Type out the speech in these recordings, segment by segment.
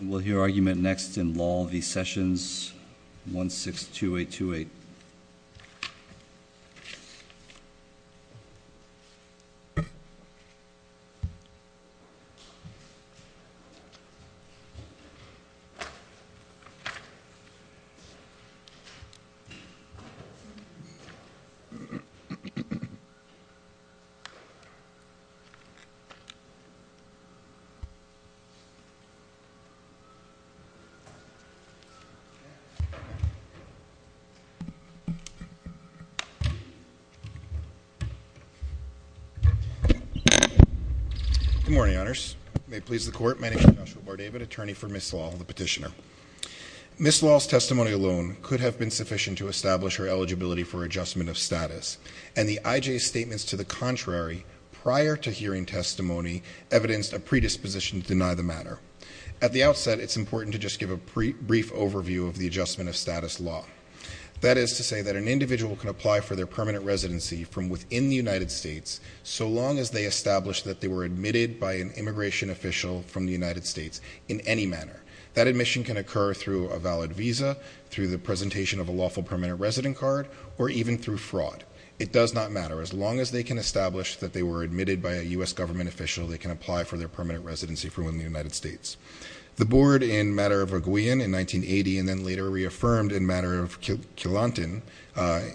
We'll hear argument next in Lall v. Sessions, 162828. Good morning, Honors. May it please the Court, my name is Joshua Bourdavid, attorney for Ms. Lall, the petitioner. Ms. Lall's testimony alone could have been sufficient to establish her eligibility for adjustment of status, and the IJ's statements to the contrary prior to hearing testimony evidenced a predisposition to deny the matter. At the outset, it's important to just give a brief overview of the adjustment of status law. That is to say that an individual can apply for their permanent residency from within the United States so long as they establish that they were admitted by an immigration official from the United States in any manner. That admission can occur through a valid visa, through the presentation of a lawful permanent resident card, or even through fraud. It does not matter. As long as they can establish that they were admitted by a U.S. government official, they can apply for their permanent residency from within the United States. The Board, in matter of Reguian in 1980, and then later reaffirmed in matter of Killanton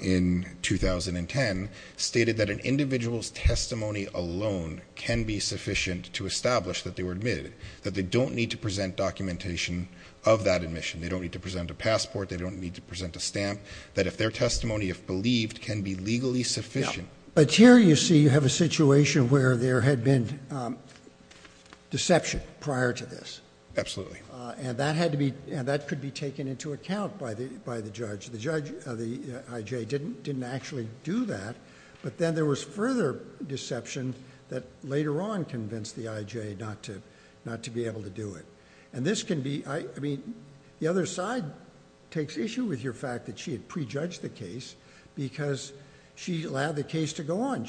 in 2010, stated that an individual's testimony alone can be sufficient to establish that they were admitted. That they don't need to present documentation of that admission. They don't need to present a passport. They don't need to present a stamp. That if their testimony, if believed, can be legally sufficient. Here you see you have a situation where there had been deception prior to this. Absolutely. That could be taken into account by the judge. The IJ didn't actually do that, but then there was further deception that later on convinced the IJ not to be able to do it. The other side takes issue with your fact that she had pre-judged the case because she allowed the case to go on.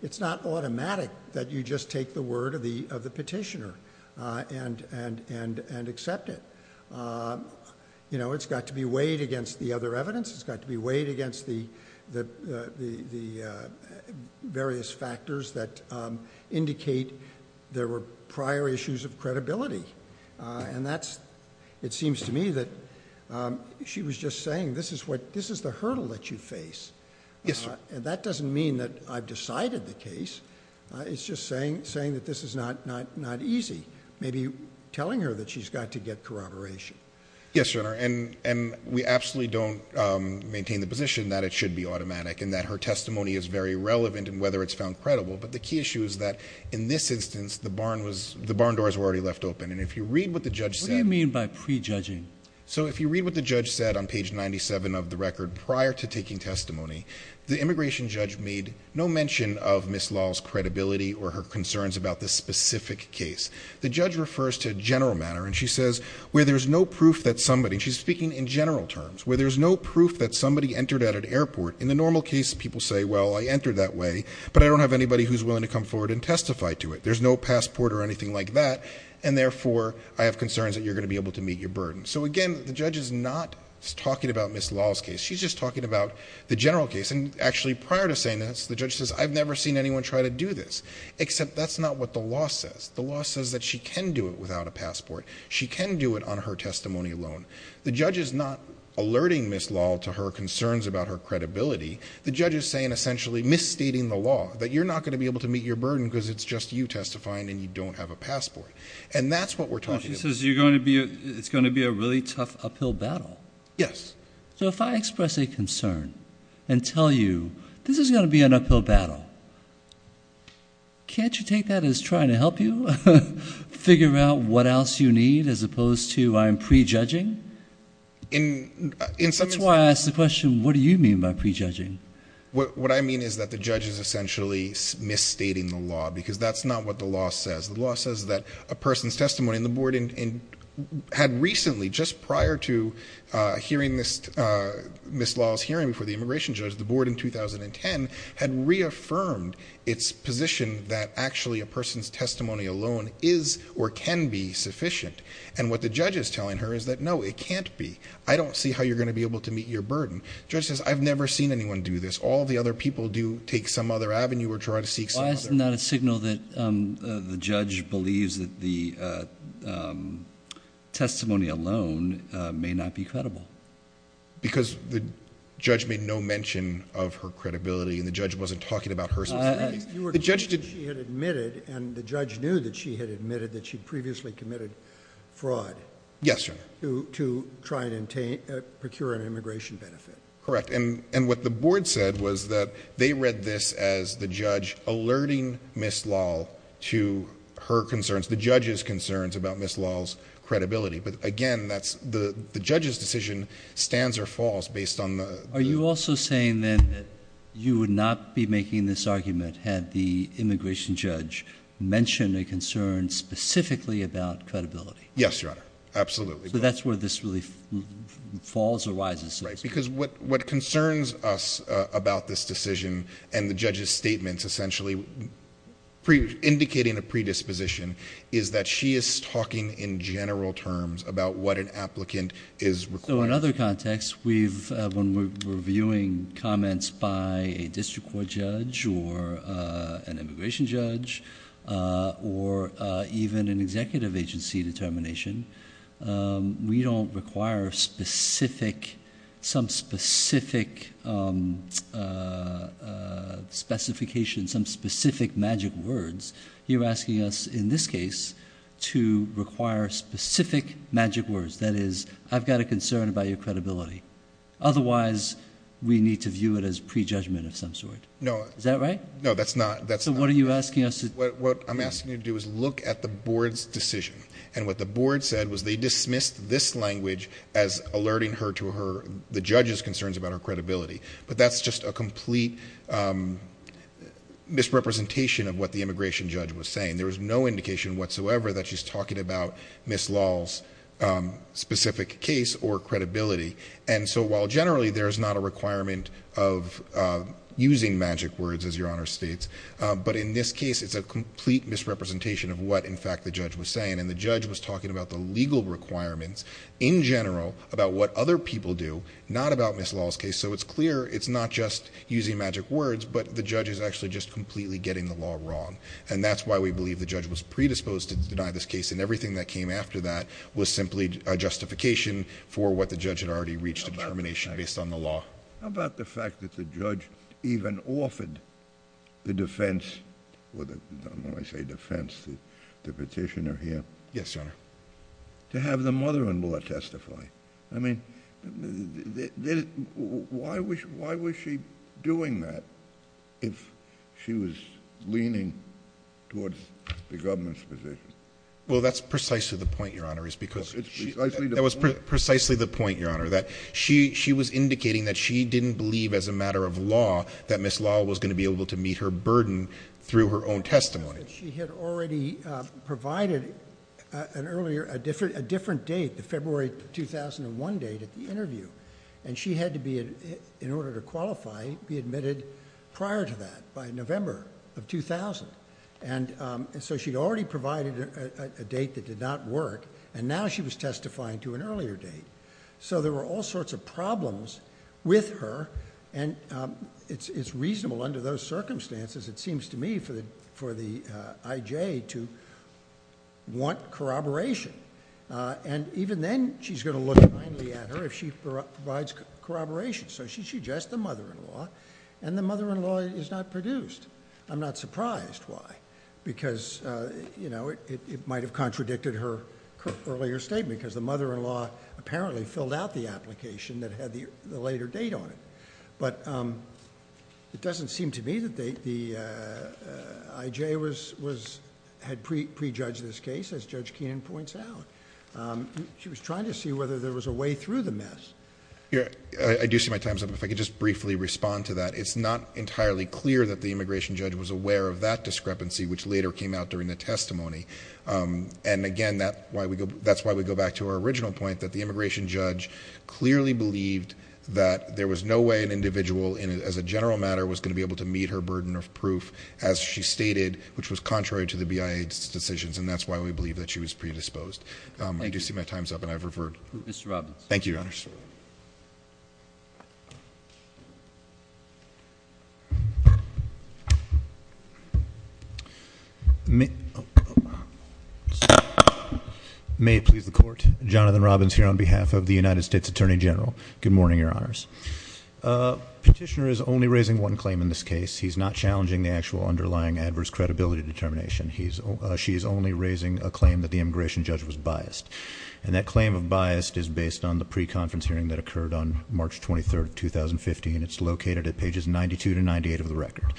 It's not automatic that you just take the word of the petitioner and accept it. It's got to be weighed against the other evidence. It's got to be weighed against the various factors that indicate there were prior issues of credibility. It's got to be weighed against the other evidence. It seems to me that she was just saying, this is the hurdle that you face. That doesn't mean that I've decided the case. It's just saying that this is not easy, maybe telling her that she's got to get corroboration. Yes, Your Honor. We absolutely don't maintain the position that it should be automatic and that her testimony is very relevant and whether it's found credible. The key issue is that in this instance, the barn doors were already left open. If you read what the judge said... So if you read what the judge said on page 97 of the record prior to taking testimony, the immigration judge made no mention of Ms. Law's credibility or her concerns about this specific case. The judge refers to a general matter and she says, where there's no proof that somebody... and she's speaking in general terms... where there's no proof that somebody entered at an airport. In the normal case, people say, well, I entered that way, but I don't have anybody who's willing to come forward and testify to it. There's no passport or anything like that, and therefore, I have concerns that you're going to be able to meet your burden. So again, the judge is not talking about Ms. Law's case. She's just talking about the general case. And actually, prior to saying this, the judge says, I've never seen anyone try to do this, except that's not what the law says. The law says that she can do it without a passport. She can do it on her testimony alone. The judge is not alerting Ms. Law to her concerns about her credibility. The judge is saying essentially, misstating the law, that you're not going to be able to meet your burden because it's just you testifying and you don't have a passport. And that's what we're talking about. So you're going to be, it's going to be a really tough uphill battle. Yes. So if I express a concern and tell you, this is going to be an uphill battle, can't you take that as trying to help you figure out what else you need as opposed to I'm prejudging? That's why I asked the question, what do you mean by prejudging? What I mean is that the judge is essentially misstating the law, because that's not what the law says. The law says that a person's testimony and the board had recently, just prior to hearing Ms. Law's hearing before the immigration judge, the board in 2010 had reaffirmed its position that actually a person's testimony alone is or can be sufficient. And what the judge is telling her is that, no, it can't be. I don't see how you're going to be able to meet your burden. The judge says, I've never seen anyone do this. All the other people do take some other avenue or try to seek some other. Why is it not a signal that the judge believes that the testimony alone may not be credible? Because the judge made no mention of her credibility, and the judge wasn't talking about her... You were told that she had admitted, and the judge knew that she had admitted that she previously committed fraud... Yes, Your Honor.... to try and procure an immigration benefit. Correct. And what the board said was that they read this as the judge alerting Ms. Law to her concerns, the judge's concerns about Ms. Law's credibility. But again, the judge's decision stands or falls based on the... Are you also saying then that you would not be making this argument had the immigration judge mentioned a concern specifically about credibility? Yes, Your Honor. Absolutely. So that's where this really falls or rises. Because what concerns us about this decision and the judge's statements essentially indicating a predisposition is that she is talking in general terms about what an applicant is requiring. So in other contexts, when we're viewing comments by a district court judge or an immigration judge or even an executive agency determination, we don't require some specific specification, some specific magic words. You're asking us in this case to require specific magic words. That is, I've got a concern about your credibility. Otherwise, we need to view it as prejudgment of some sort. Is that right? No, that's not. What are you asking us to do? What I'm asking you to do is look at the board's decision. And what the board said was they dismissed this language as alerting her to the judge's concerns about her credibility. But that's just a complete misrepresentation of what the immigration judge was saying. There was no indication whatsoever that she's talking about Ms. Law's specific case or credibility. And so generally, there's not a requirement of using magic words, as Your Honor states. But in this case, it's a complete misrepresentation of what, in fact, the judge was saying. And the judge was talking about the legal requirements in general about what other people do, not about Ms. Law's case. So it's clear it's not just using magic words, but the judge is actually just completely getting the law wrong. And that's why we believe the judge was predisposed to deny this case. And everything that came after that was simply a justification for what the judge had already reached a determination based on the law. How about the fact that the judge even offered the defense, or when I say defense, the petitioner here? Yes, Your Honor. To have the mother-in-law testify. I mean, why was she doing that if she was leaning towards the government's position? Well, that's precisely the point, Your Honor, that she was indicating that she didn't believe, as a matter of law, that Ms. Law was going to be able to meet her burden through her own testimony. She had already provided an earlier, a different date, the February 2001 date at the interview. And she had to be, in order to qualify, be admitted prior to that, by November of 2000. And so she'd already provided a date that did not work, and now she was testifying to an earlier date. So there were all sorts of problems with her, and it's reasonable under those circumstances, it seems to me, for the IJ to want corroboration. And even then, she's going to look kindly at her if she provides corroboration. So she's just the mother-in-law, and the mother-in-law is not surprised why. Because, you know, it might have contradicted her earlier statement, because the mother-in-law apparently filled out the application that had the later date on it. But it doesn't seem to me that the IJ had pre-judged this case, as Judge Keenan points out. She was trying to see whether there was a way through the mess. I do see my time's up. If I could just briefly respond to that. It's not entirely clear that Immigration Judge was aware of that discrepancy, which later came out during the testimony. And again, that's why we go back to our original point, that the Immigration Judge clearly believed that there was no way an individual, as a general matter, was going to be able to meet her burden of proof, as she stated, which was contrary to the BIA's decisions. And that's why we believe that she was predisposed. I do see my time's up, and I've May it please the court. Jonathan Robbins here on behalf of the United States Attorney General. Good morning, your honors. Petitioner is only raising one claim in this case. He's not challenging the actual underlying adverse credibility determination. She is only raising a claim that the Immigration Judge was biased. And that claim of biased is based on the pre-conference hearing that occurred on March 23rd, 2015. It's located at pages 92 to 98 of the record.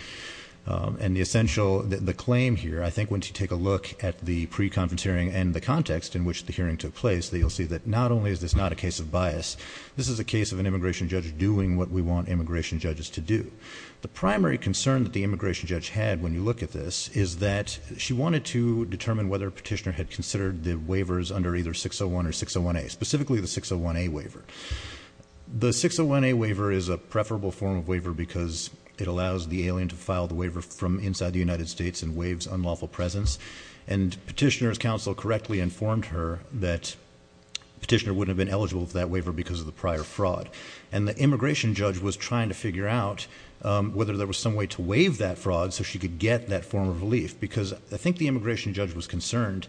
And the essential, the claim here, I think once you take a look at the pre-conference hearing and the context in which the hearing took place, that you'll see that not only is this not a case of bias, this is a case of an Immigration Judge doing what we want Immigration Judges to do. The primary concern that the Immigration Judge had when you look at this is that she wanted to determine whether Petitioner had considered the waivers under either 601 or 601A, specifically the 601A waiver. The 601A waiver is a preferable form of waiver because it allows the alien to file the waiver from inside the United States and waives unlawful presence. And Petitioner's counsel correctly informed her that Petitioner wouldn't have been eligible for that waiver because of the prior fraud. And the Immigration Judge was trying to figure out whether there was some way to waive that fraud so she could get that form of relief. Because I think the Immigration Judge had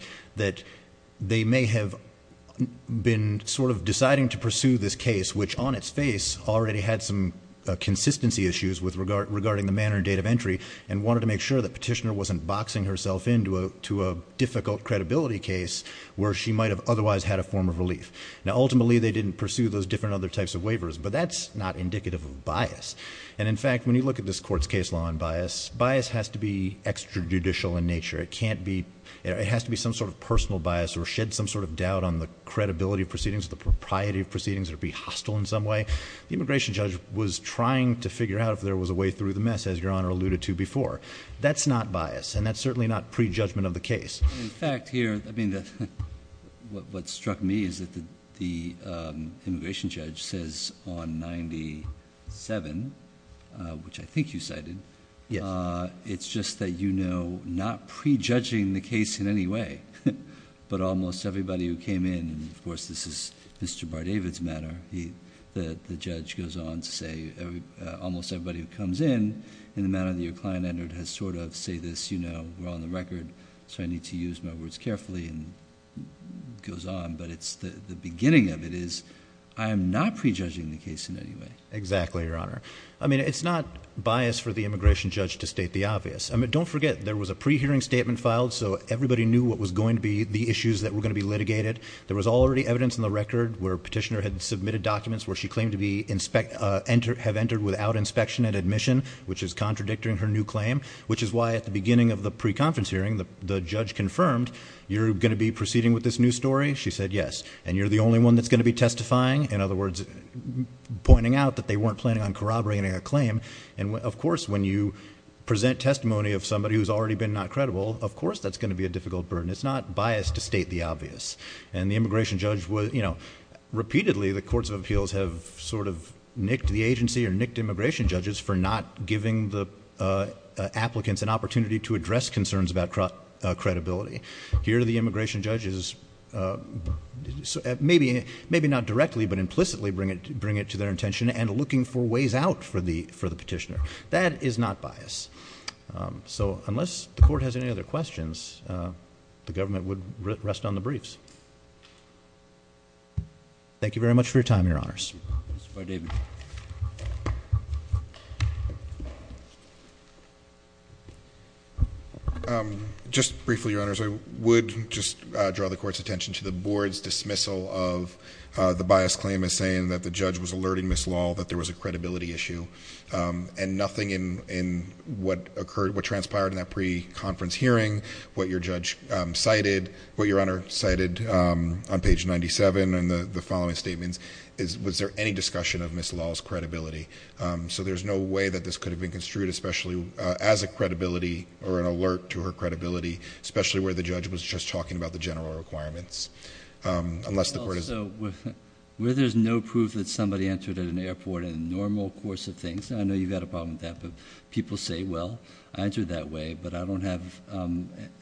been sort of deciding to pursue this case which on its face already had some consistency issues regarding the manner and date of entry and wanted to make sure that Petitioner wasn't boxing herself into a difficult credibility case where she might have otherwise had a form of relief. Now ultimately they didn't pursue those different other types of waivers but that's not indicative of bias. And in fact when you look at this court's case law on bias, bias has to be extrajudicial in nature. It can't be, it has to be some sort of personal bias or shed some sort of doubt on the credibility of proceedings or the propriety of proceedings or be hostile in some way. The Immigration Judge was trying to figure out if there was a way through the mess as Your Honor alluded to before. That's not bias and that's certainly not prejudgment of the case. In fact here, I mean what struck me is that the Immigration Judge says on 97, which I think you cited, it's just that you know not prejudging the case in any way but almost everybody who came in and of course this is Mr. Bardavid's manner. He, the judge goes on to say almost everybody who comes in in the manner that your client entered has sort of say this you know we're on the record so I need to use my words carefully and goes on but it's the beginning of it is I am not prejudging the case in any way. Exactly Your Honor. I mean it's not bias for the Immigration Judge to state the obvious. I mean don't forget there was a pre-hearing statement filed so everybody knew what was going to be the issues that were going to be litigated. There was already evidence in the record where Petitioner had submitted documents where she claimed to have entered without inspection and admission which is contradicting her new claim which is why at the beginning of the pre-conference hearing the judge confirmed you're going to be proceeding with this new story. She said yes and you're the only one that's going to be testifying in other words pointing out that they weren't planning on corroborating a claim and of course when you present testimony of somebody who's already been not credible of course that's going to be a difficult burden. It's not bias to state the obvious and the Immigration Judge was you know repeatedly the Courts of Appeals have sort of nicked the agency or nicked Immigration Judges for not giving the applicants an opportunity to address concerns about credibility. Here the Immigration Judges maybe not directly but implicitly bring it to their intention and looking for ways out for the Petitioner. That is not bias. So unless the court has any other questions the government would rest on the briefs. Thank you very much for your time your honors. Just briefly your honors I would just draw the court's attention to the board's dismissal of the bias claim is saying that the judge was alerting Ms. Lal that there was a credibility issue and nothing in what occurred what transpired in that pre-conference hearing what your judge cited what your honor cited on page 97 and the following statements is was there any discussion of Ms. Lal's credibility. So there's no way that this could have been construed especially as a credibility or an alert to her credibility especially where the judge was just talking about the general requirements. So where there's no proof that somebody entered at an airport in the normal course of things I know you've got a problem with that but people say well I entered that way but I don't have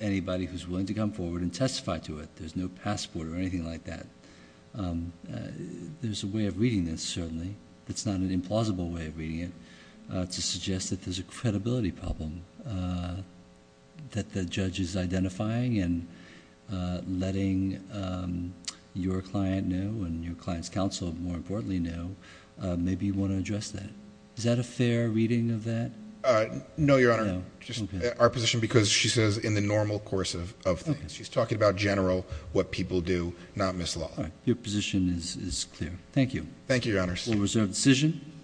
anybody who's willing to come forward and testify to it there's no passport or anything like that. There's a way of reading this certainly it's not an implausible way of reading it to suggest that there's a credibility problem that the judge is identifying and letting your client know and your client's counsel more importantly know maybe you want to address that. Is that a fair reading of that? Uh no your honor just our position because she says in the normal course of of things she's talking about general what people do not Ms. Lal. All right your position is is clear. Thank you. Thank you your honors. We'll reserve decision.